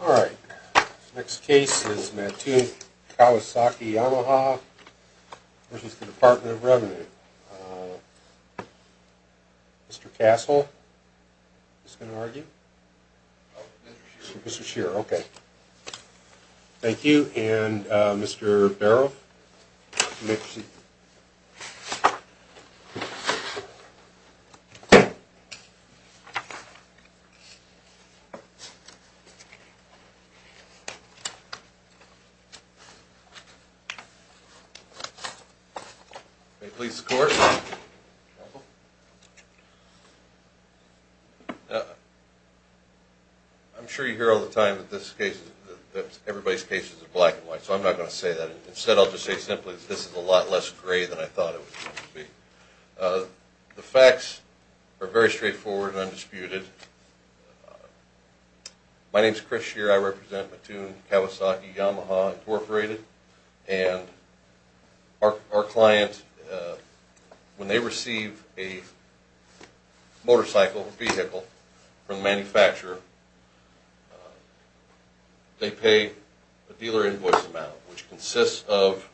All right. The next case is Mattoon Kawasaki Yamaha v. The Department of Revenue. Mr. Castle, who's going to argue? Oh, Mr. Shearer. Mr. Shearer, okay. Thank you. And Mr. Barrow? May it please the Court. I'm sure you hear all the time that everybody's cases are black and white, so I'm not going to say that. Instead, I'll just say simply that this is a lot less gray than I thought it was going to be. The facts are very straightforward and undisputed. My name's Chris Shearer. I represent Mattoon Kawasaki Yamaha, Inc. And our client, when they receive a motorcycle vehicle from the manufacturer, they pay a dealer invoice amount, which consists of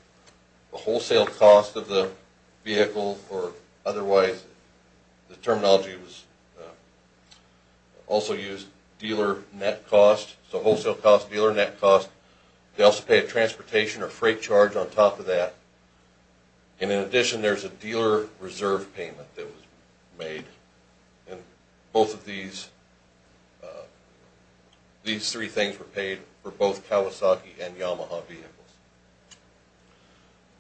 the wholesale cost of the vehicle, or otherwise, the terminology was also used, dealer net cost. So wholesale cost, dealer net cost. They also pay a transportation or freight charge on top of that. And in addition, there's a dealer reserve payment that was made. And both of these, these three things were paid for both Kawasaki and Yamaha vehicles.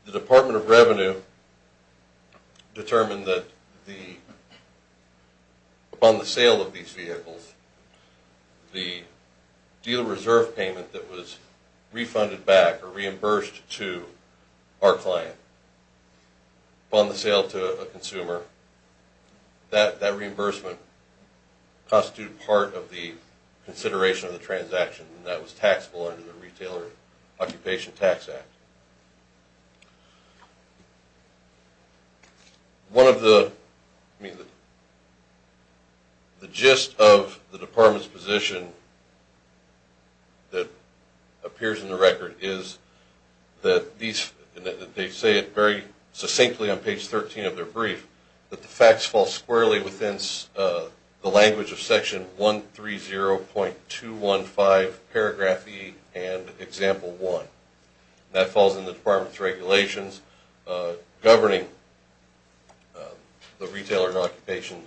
The Department of Revenue determined that upon the sale of these vehicles, the dealer reserve payment that was refunded back or reimbursed to our client upon the sale to a consumer, that reimbursement constituted part of the consideration of the transaction. And that was taxable under the Retailer Occupation Tax Act. One of the, I mean, the gist of the Department's position that appears in the record is that these, and they say it very succinctly on page 13 of their brief, that the facts fall squarely within the language of section 130.215 paragraph E and example 1. That falls in the Department's regulations governing the Retailer Occupation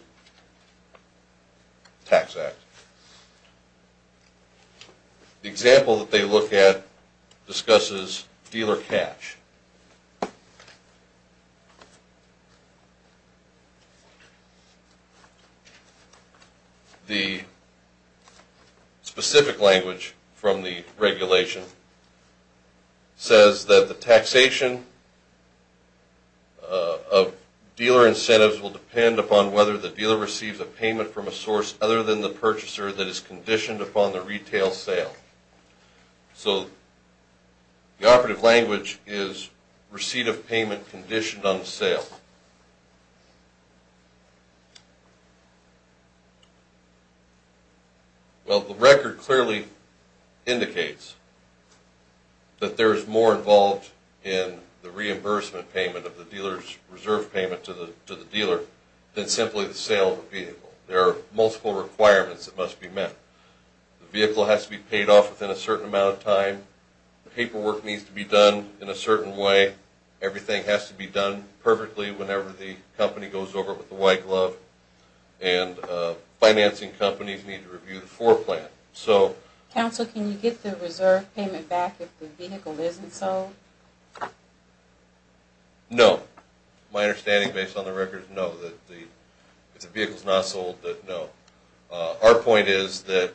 Tax Act. The example that they look at discusses dealer cash. The specific language from the regulation says that the taxation of dealer incentives will depend upon whether the dealer receives a payment from a source other than the purchaser that is conditioned upon the retail sale. So the operative language is receipt of payment conditioned on the sale. Well, the record clearly indicates that there is more involved in the reimbursement payment of the dealer's reserve payment to the dealer than simply the sale of the vehicle. There are multiple requirements that must be met. The vehicle has to be paid off within a certain amount of time. The paperwork needs to be done in a certain way. Everything has to be done perfectly whenever the company goes over it with the white glove. And financing companies need to review the floor plan. So... Counsel, can you get the reserve payment back if the vehicle isn't sold? No. My understanding based on the record is no. If the vehicle is not sold, then no. Our point is that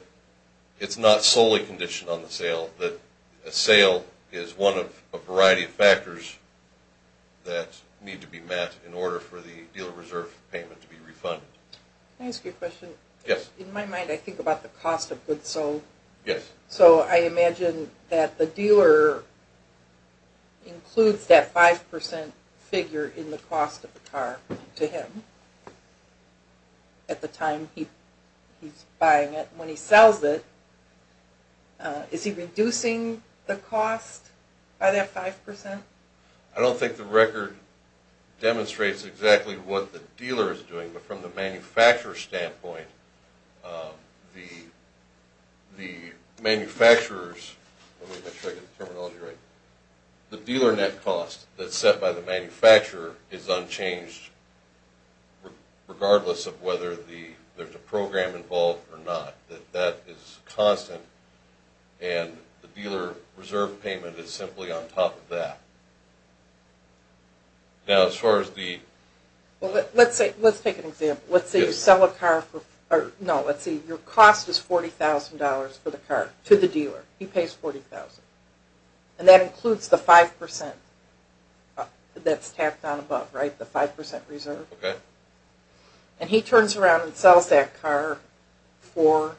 it's not solely conditioned on the sale. That a sale is one of a variety of factors that need to be met in order for the dealer reserve payment to be refunded. Can I ask you a question? Yes. In my mind, I think about the cost of goods sold. Yes. So I imagine that the dealer includes that 5% figure in the cost of the car to him at the time he's buying it. When he sells it, is he reducing the cost by that 5%? I don't think the record demonstrates exactly what the dealer is doing. But from the manufacturer's standpoint, the manufacturers... Let me make sure I get the terminology right. The dealer net cost that's set by the manufacturer is unchanged regardless of whether there's a program involved or not. That is constant, and the dealer reserve payment is simply on top of that. Now as far as the... Let's take an example. Let's say you sell a car for... No, let's see. Your cost is $40,000 for the car to the dealer. He pays $40,000. And that includes the 5% that's tapped on above, right? The 5% reserve? Okay. And he turns around and sells that car for...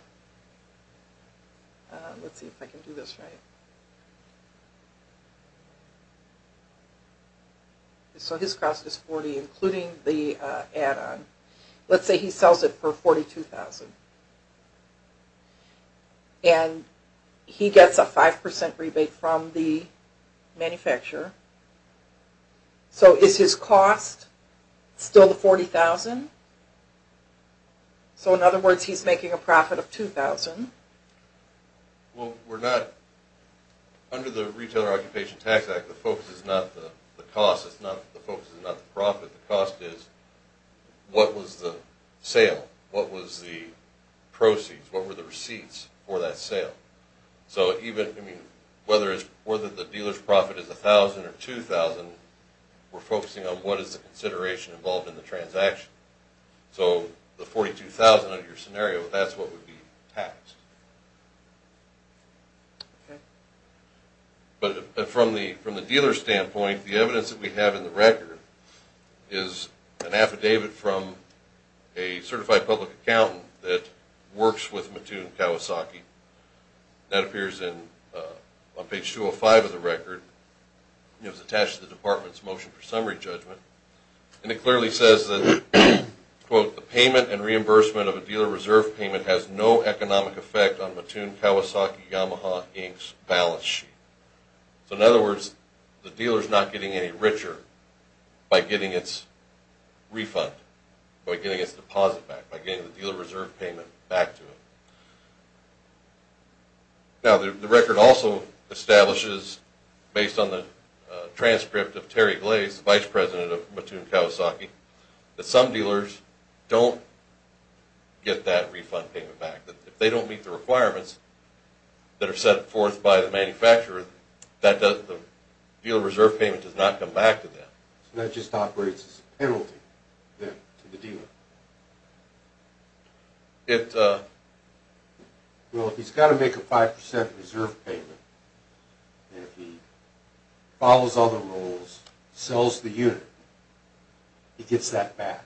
Let's see if I can do this right. So his cost is $40,000, including the add-on. Let's say he sells it for $42,000. And he gets a 5% rebate from the manufacturer. So is his cost still the $40,000? So in other words, he's making a profit of $2,000. Well, we're not... Under the Retailer Occupation Tax Act, the focus is not the cost. The focus is not the profit. The cost is what was the sale? What were the receipts for that sale? So whether the dealer's profit is $1,000 or $2,000, we're focusing on what is the consideration involved in the transaction. So the $42,000 under your scenario, that's what would be taxed. But from the dealer's standpoint, the evidence that we have in the record is an affidavit from a certified public accountant that works with Mattoon Kawasaki. That appears on page 205 of the record. It was attached to the Department's Motion for Summary Judgment. And it clearly says that, quote, the payment and reimbursement of a dealer reserve payment has no economic effect on Mattoon Kawasaki Yamaha Inc.'s balance sheet. So in other words, the dealer's not getting any richer by getting its refund, by getting its deposit back, by getting the dealer reserve payment back to them. Now, the record also establishes, based on the transcript of Terry Glaze, the vice president of Mattoon Kawasaki, that some dealers don't get that refund payment back. If they don't meet the requirements that are set forth by the manufacturer, the dealer reserve payment does not come back to them. So that just operates as a penalty to the dealer. Well, if he's got to make a 5% reserve payment, and if he follows other rules, sells the unit, he gets that back.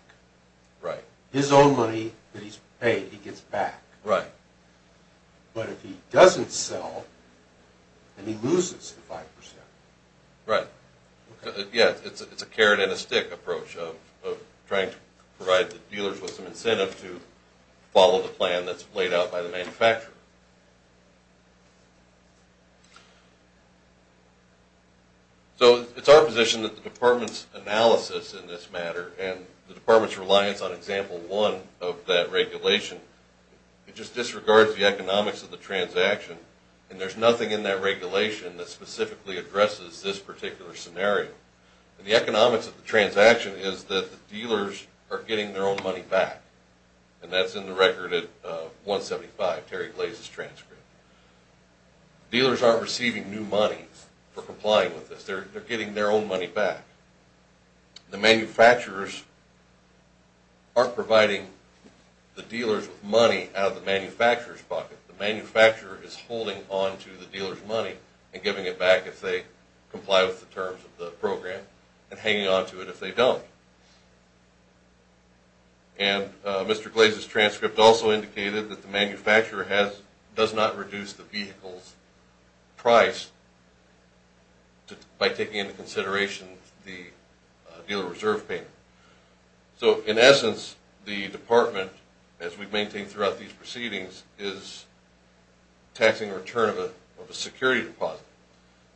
His own money that he's paid, he gets back. But if he doesn't sell, then he loses the 5%. Right. Yeah, it's a carrot and a stick approach of trying to provide the dealers with some incentive to follow the plan that's laid out by the manufacturer. So it's our position that the department's analysis in this matter, and the department's reliance on example one of that regulation, it just disregards the economics of the transaction, and there's nothing in that regulation that specifically addresses this particular scenario. The economics of the transaction is that the dealers are getting their own money back. And that's in the record at 175, Terry Glaze's transcript. Dealers aren't receiving new money for complying with this. They're getting their own money back. The manufacturers aren't providing the dealers with money out of the manufacturer's bucket. The manufacturer is holding on to the dealer's money and giving it back if they comply with the terms of the program and hanging on to it if they don't. And Mr. Glaze's transcript also indicated that the manufacturer does not reduce the vehicle's price by taking into consideration the dealer reserve payment. So in essence, the department, as we've maintained throughout these proceedings, is taxing the return of a security deposit.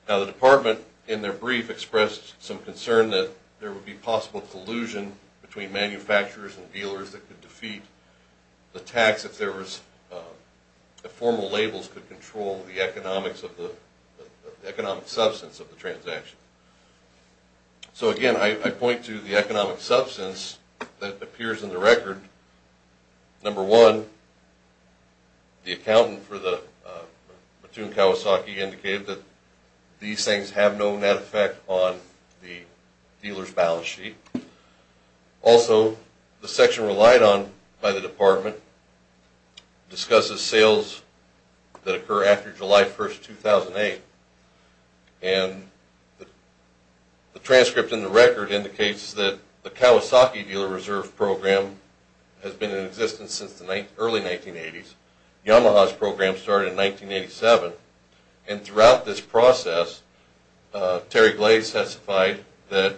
Now the department, in their brief, expressed some concern that there would be possible collusion between manufacturers and dealers that could defeat the tax if formal labels could control the economic substance of the transaction. So again, I point to the economic substance that appears in the record and number one, the accountant for the Mattoon Kawasaki indicated that these things have no net effect on the dealer's balance sheet. Also, the section relied on by the department discusses sales that occur after July 1, 2008, and the transcript in the record indicates that the Kawasaki dealer reserve program has been in existence since the early 1980s. Yamaha's program started in 1987, and throughout this process, Terry Glaze testified that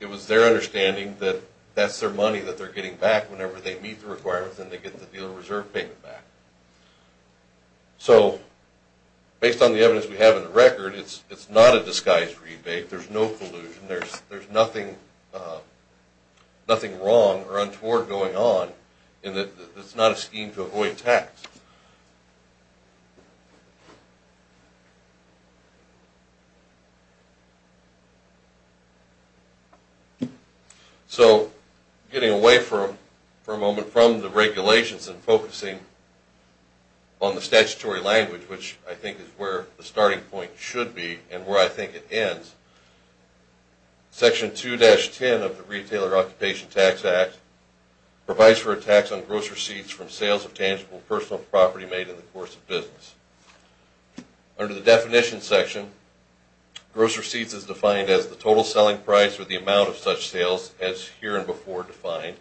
it was their understanding that that's their money that they're getting back whenever they meet the requirements and they get the dealer reserve payment back. So based on the evidence we have in the record, it's not a disguise rebate. There's no collusion. There's nothing wrong or untoward going on in that it's not a scheme to avoid tax. So getting away for a moment from the regulations and focusing on the statutory language, which I think is where the starting point should be and where I think it ends, section 2-10 of the Retailer Occupation Tax Act provides for a tax on gross receipts from sales of tangible personal property made in the course of business. Under the definitions section, gross receipts is defined as the total selling price or the amount of such sales as here and before defined,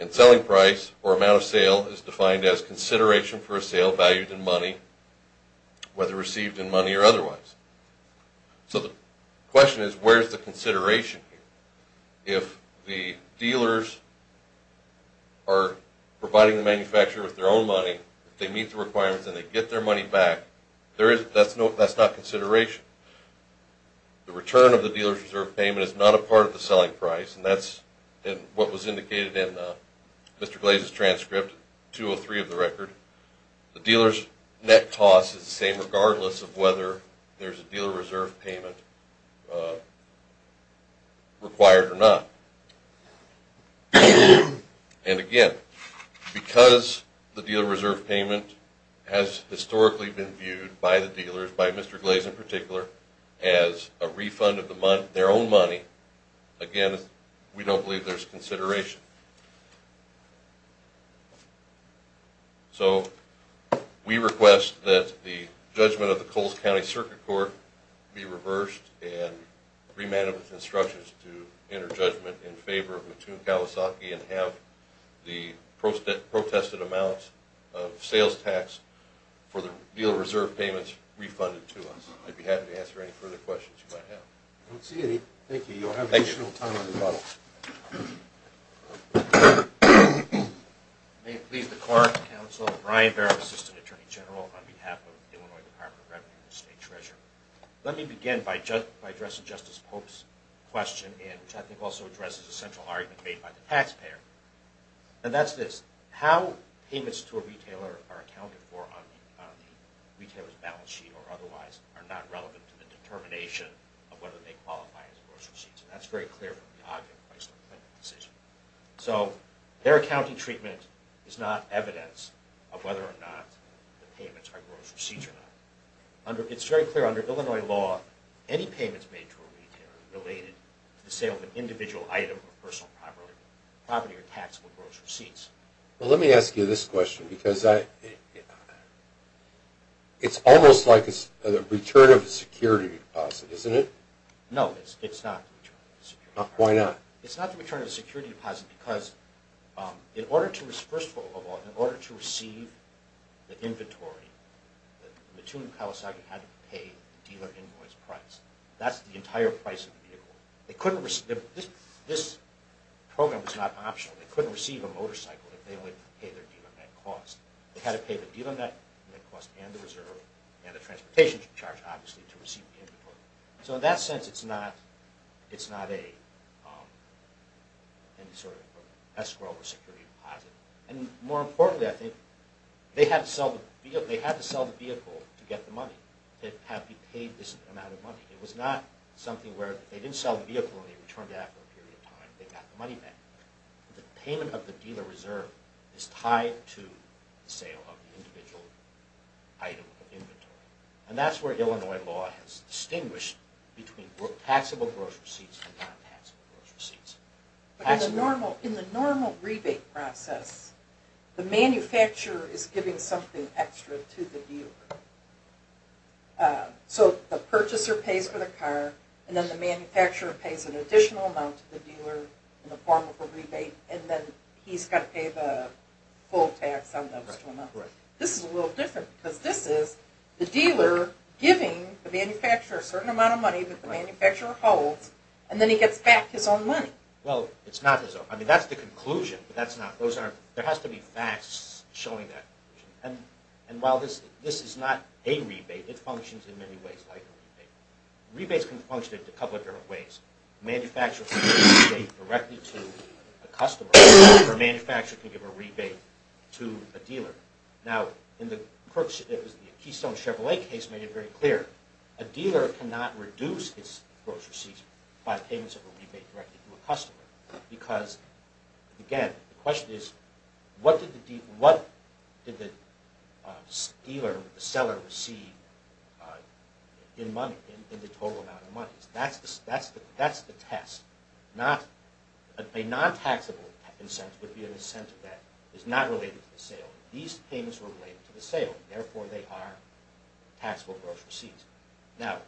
and selling price or amount of sale is defined as consideration for a sale valued in money, whether received in money or otherwise. So the question is where's the consideration here? If the dealers are providing the manufacturer with their own money, they meet the requirements and they get their money back, that's not consideration. The return of the dealer's reserve payment is not a part of the selling price, and that's what was indicated in Mr. Glaze's transcript, 203 of the record. The dealer's net cost is the same regardless of whether there's a dealer reserve payment required or not. And again, because the dealer reserve payment has historically been viewed by the dealers, by Mr. Glaze in particular, as a refund of their own money, again, we don't believe there's consideration. So we request that the judgment of the Coles County Circuit Court be reversed and remanded with instructions to enter judgment in favor of Mattoon Kawasaki and have the protested amounts of sales tax for the dealer reserve payments refunded to us. I'd be happy to answer any further questions you might have. I don't see any. Thank you. You'll have additional time on your bottle. May it please the Court, Counsel, Brian Barrow, Assistant Attorney General, on behalf of the Illinois Department of Revenue and the State Treasurer, let me begin by addressing Justice Pope's question, which I think also addresses a central argument made by the taxpayer. And that's this. How payments to a retailer are accounted for on the retailer's balance sheet or otherwise are not relevant to the determination of whether they qualify as grocery sheets. And that's very clear from the argument placed on the plaintiff's decision. So their accounting treatment is not evidence of whether or not the payments are grocery sheets or not. It's very clear, under Illinois law, any payments made to a retailer are related to the sale of an individual item of personal property or taxable grocery sheets. Well, let me ask you this question, because it's almost like a return of a security deposit, isn't it? No, it's not a return of a security deposit. Why not? It's not a return of a security deposit because, first of all, in order to receive the inventory, the Mattoon Kawasaki had to pay dealer invoice price. That's the entire price of the vehicle. This program was not optional. They couldn't receive a motorcycle if they only paid their dealer net cost. They had to pay the dealer net cost and the reserve and the transportation charge, obviously, to receive the inventory. So in that sense, it's not a sort of escrow or security deposit. And more importantly, I think, they had to sell the vehicle to get the money. They had to pay this amount of money. It was not something where they didn't sell the vehicle and they returned it after a period of time and they got the money back. The payment of the dealer reserve is tied to the sale of the individual item of inventory. And that's where Illinois law has distinguished between taxable gross receipts and non-taxable gross receipts. But in the normal rebate process, the manufacturer is giving something extra to the dealer. So the purchaser pays for the car, and then the manufacturer pays an additional amount to the dealer in the form of a rebate, and then he's got to pay the full tax on those two amounts. This is a little different because this is the dealer giving the manufacturer a certain amount of money that the manufacturer holds, and then he gets back his own money. Well, it's not his own. I mean, that's the conclusion, but that's not. There has to be facts showing that. And while this is not a rebate, it functions in many ways like a rebate. Rebates can function in a couple of different ways. A manufacturer can give a rebate directly to a customer, or a manufacturer can give a rebate to a dealer. Now, the Keystone Chevrolet case made it very clear. A dealer cannot reduce his gross receipts by payments of a rebate directly to a customer because, again, the question is, what did the dealer, the seller, receive in money, in the total amount of money? That's the test. A non-taxable incentive would be an incentive that is not related to the sale. These payments were related to the sale. Therefore, they are taxable gross receipts. Now,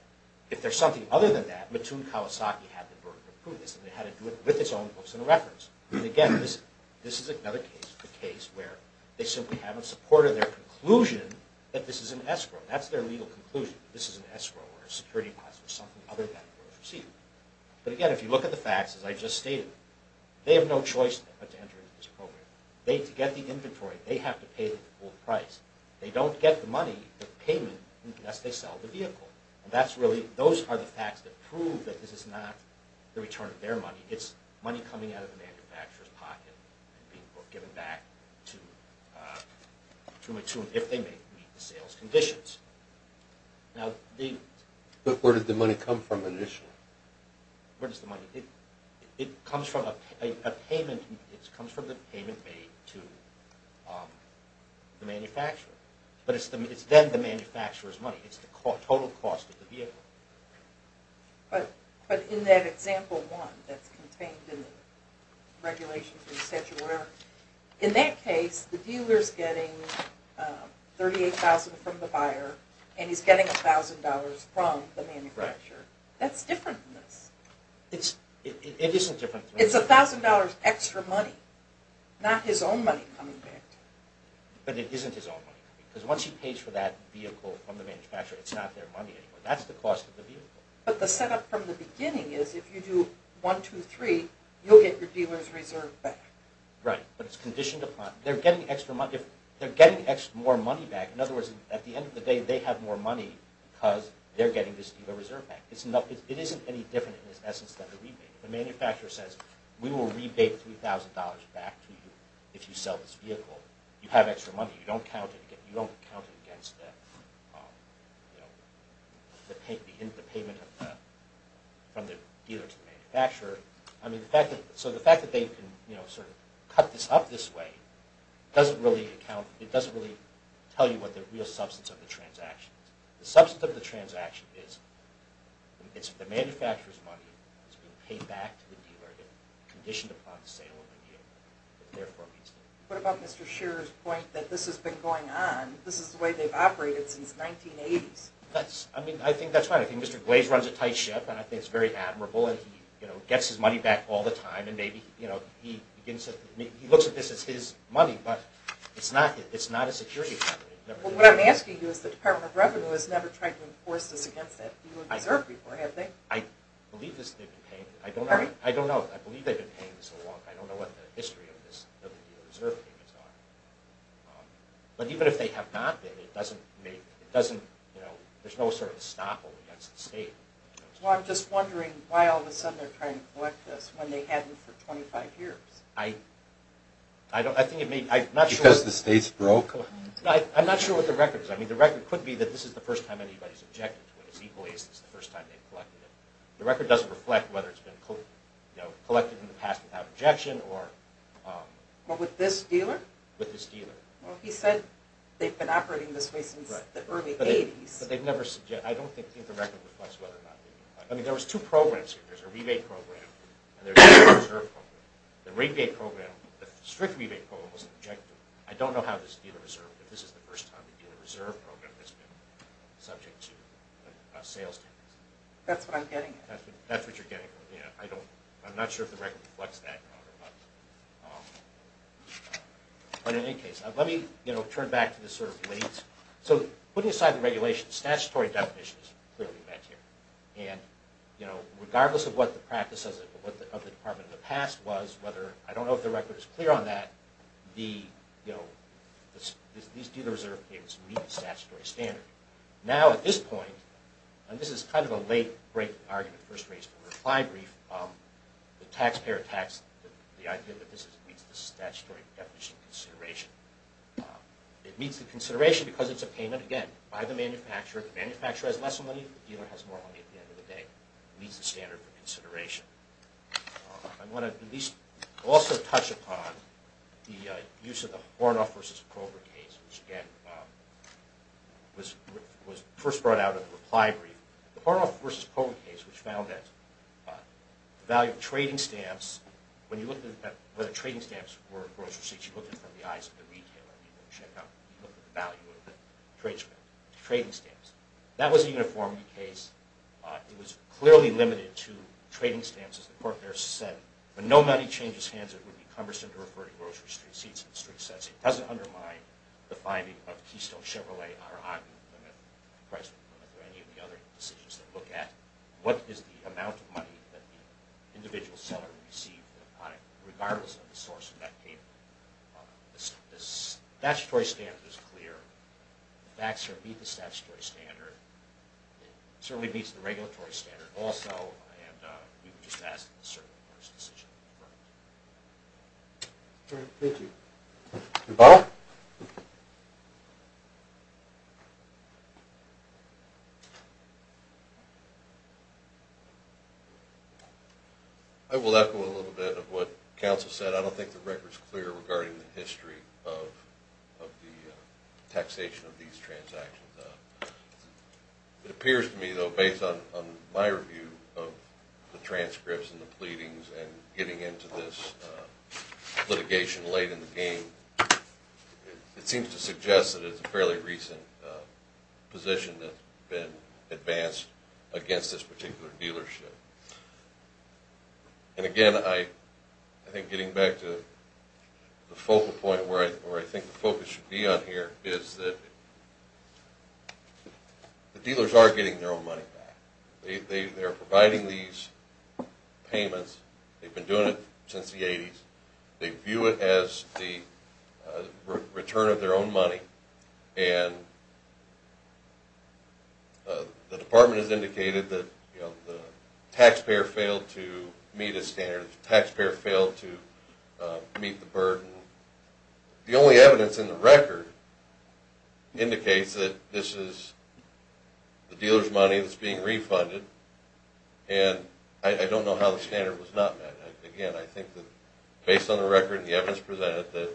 if there's something other than that, Mattoon Kawasaki had the burden of proof. They had to do it with its own books and records. And again, this is another case, a case where they simply haven't supported their conclusion that this is an escrow. That's their legal conclusion, that this is an escrow or a security deposit or something other than a gross receipt. But again, if you look at the facts, as I just stated, they have no choice but to enter into this program. To get the inventory, they have to pay the full price. They don't get the money, the payment, unless they sell the vehicle. Those are the facts that prove that this is not the return of their money. It's money coming out of the manufacturer's pocket and being given back to Mattoon if they meet the sales conditions. But where did the money come from initially? Where does the money come from? It comes from the payment made to the manufacturer. But it's then the manufacturer's money. It's the total cost of the vehicle. But in that example one that's contained in the regulations or the statute or whatever, in that case, the dealer's getting $38,000 from the buyer and he's getting $1,000 from the manufacturer. That's different than this. It isn't different. It's $1,000 extra money. Not his own money coming back to him. But it isn't his own money. Because once he pays for that vehicle from the manufacturer, it's not their money anymore. That's the cost of the vehicle. But the setup from the beginning is if you do 1, 2, 3, you'll get your dealer's reserve back. Right, but it's conditioned upon... They're getting more money back. In other words, at the end of the day, they have more money because they're getting this dealer's reserve back. It isn't any different in its essence than the rebate. If the manufacturer says, we will rebate $3,000 back to you if you sell this vehicle, you have extra money. You don't count it against the payment from the dealer to the manufacturer. So the fact that they can cut this up this way doesn't really tell you what the real substance of the transaction is. The substance of the transaction is the manufacturer's money is being paid back to the dealer and conditioned upon the sale of the vehicle. What about Mr. Shearer's point that this has been going on? This is the way they've operated since the 1980s. I think that's right. I think Mr. Glaze runs a tight ship, and I think it's very admirable, and he gets his money back all the time. He looks at this as his money, but it's not a security company. What I'm asking you is the Department of Revenue has never tried to enforce this against that dealer's reserve before, have they? I believe they've been paying this along. I don't know what the history of this dealer's reserve payments are. But even if they have not been, there's no sort of estoppel against the state. I'm just wondering why all of a sudden they're trying to collect this when they hadn't for 25 years. Because the state's broke? I'm not sure what the record is. The record could be that this is the first time anybody's objected to it as equally as this is the first time they've collected it. The record doesn't reflect whether it's been collected in the past without objection. But with this dealer? With this dealer. Well, he said they've been operating this way since the early 80s. But I don't think the record reflects whether or not they've been collecting. I mean, there was two programs here. There's a rebate program, and there's a dealer's reserve program. The rebate program, the strict rebate program, was objective. I don't know how this dealer's reserve, if this is the first time the dealer's reserve program has been subject to a sales tax. That's what I'm getting at. That's what you're getting at. I'm not sure if the record reflects that. But in any case, let me turn back to this sort of late. So putting aside the regulations, statutory definitions clearly met here. And regardless of what the practice of the Department of the past was, I don't know if the record is clear on that, these dealer's reserve payments meet the statutory standard. Now, at this point, and this is kind of a late, great argument, first-rate reply brief, the taxpayer tax, the idea that this meets the statutory definition of consideration. It meets the consideration because it's a payment, again, by the manufacturer. The manufacturer has less money. The dealer has more money at the end of the day. It meets the standard for consideration. I want to at least also touch upon the use of the Hornoff v. Kroger case, which, again, was first brought out in the reply brief. The Hornoff v. Kroger case, which found that the value of trading stamps, when you look at whether trading stamps were grocery seats, you look at it from the eyes of the retailer. You look at the value of the trading stamps. That was a uniform case. It was clearly limited to trading stamps, as the court there said. When no money changes hands, it would be cumbersome to refer to grocery street seats and street sets. It doesn't undermine the finding of Keystone, Chevrolet, Aragon, Plymouth, and Chrysler and Plymouth, or any of the other decisions that look at what is the amount of money that the individual seller received in a product, regardless of the source of that payment. The statutory standard is clear. The facts meet the statutory standard. It certainly meets the regulatory standard also, and we would just ask that the circuit court's decision be referred to. Thank you. Bob? I will echo a little bit of what counsel said. I don't think the record is clear regarding the history of the taxation of these transactions. It appears to me, though, based on my review of the transcripts and the pleadings and getting into this litigation late in the game, it seems to suggest that it's a fairly recent position that's been advanced against this particular dealership. Again, I think getting back to the focal point where I think the focus should be on here is that the dealers are getting their own money back. They're providing these payments. They've been doing it since the 80s. They view it as the return of their own money, and the department has indicated that the taxpayer failed to meet a standard. The taxpayer failed to meet the burden. The only evidence in the record indicates that this is the dealer's money that's being refunded, and I don't know how the standard was not met. Again, I think that based on the record and the evidence presented that the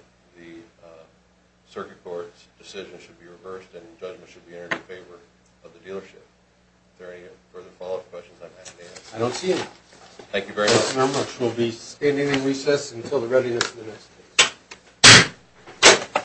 circuit court's decision should be reversed and judgment should be entered in favor of the dealership. Is there any further follow-up questions I may have to ask? I don't see any. Thank you very much. Thank you very much. We'll be standing in recess until the readiness of the next case.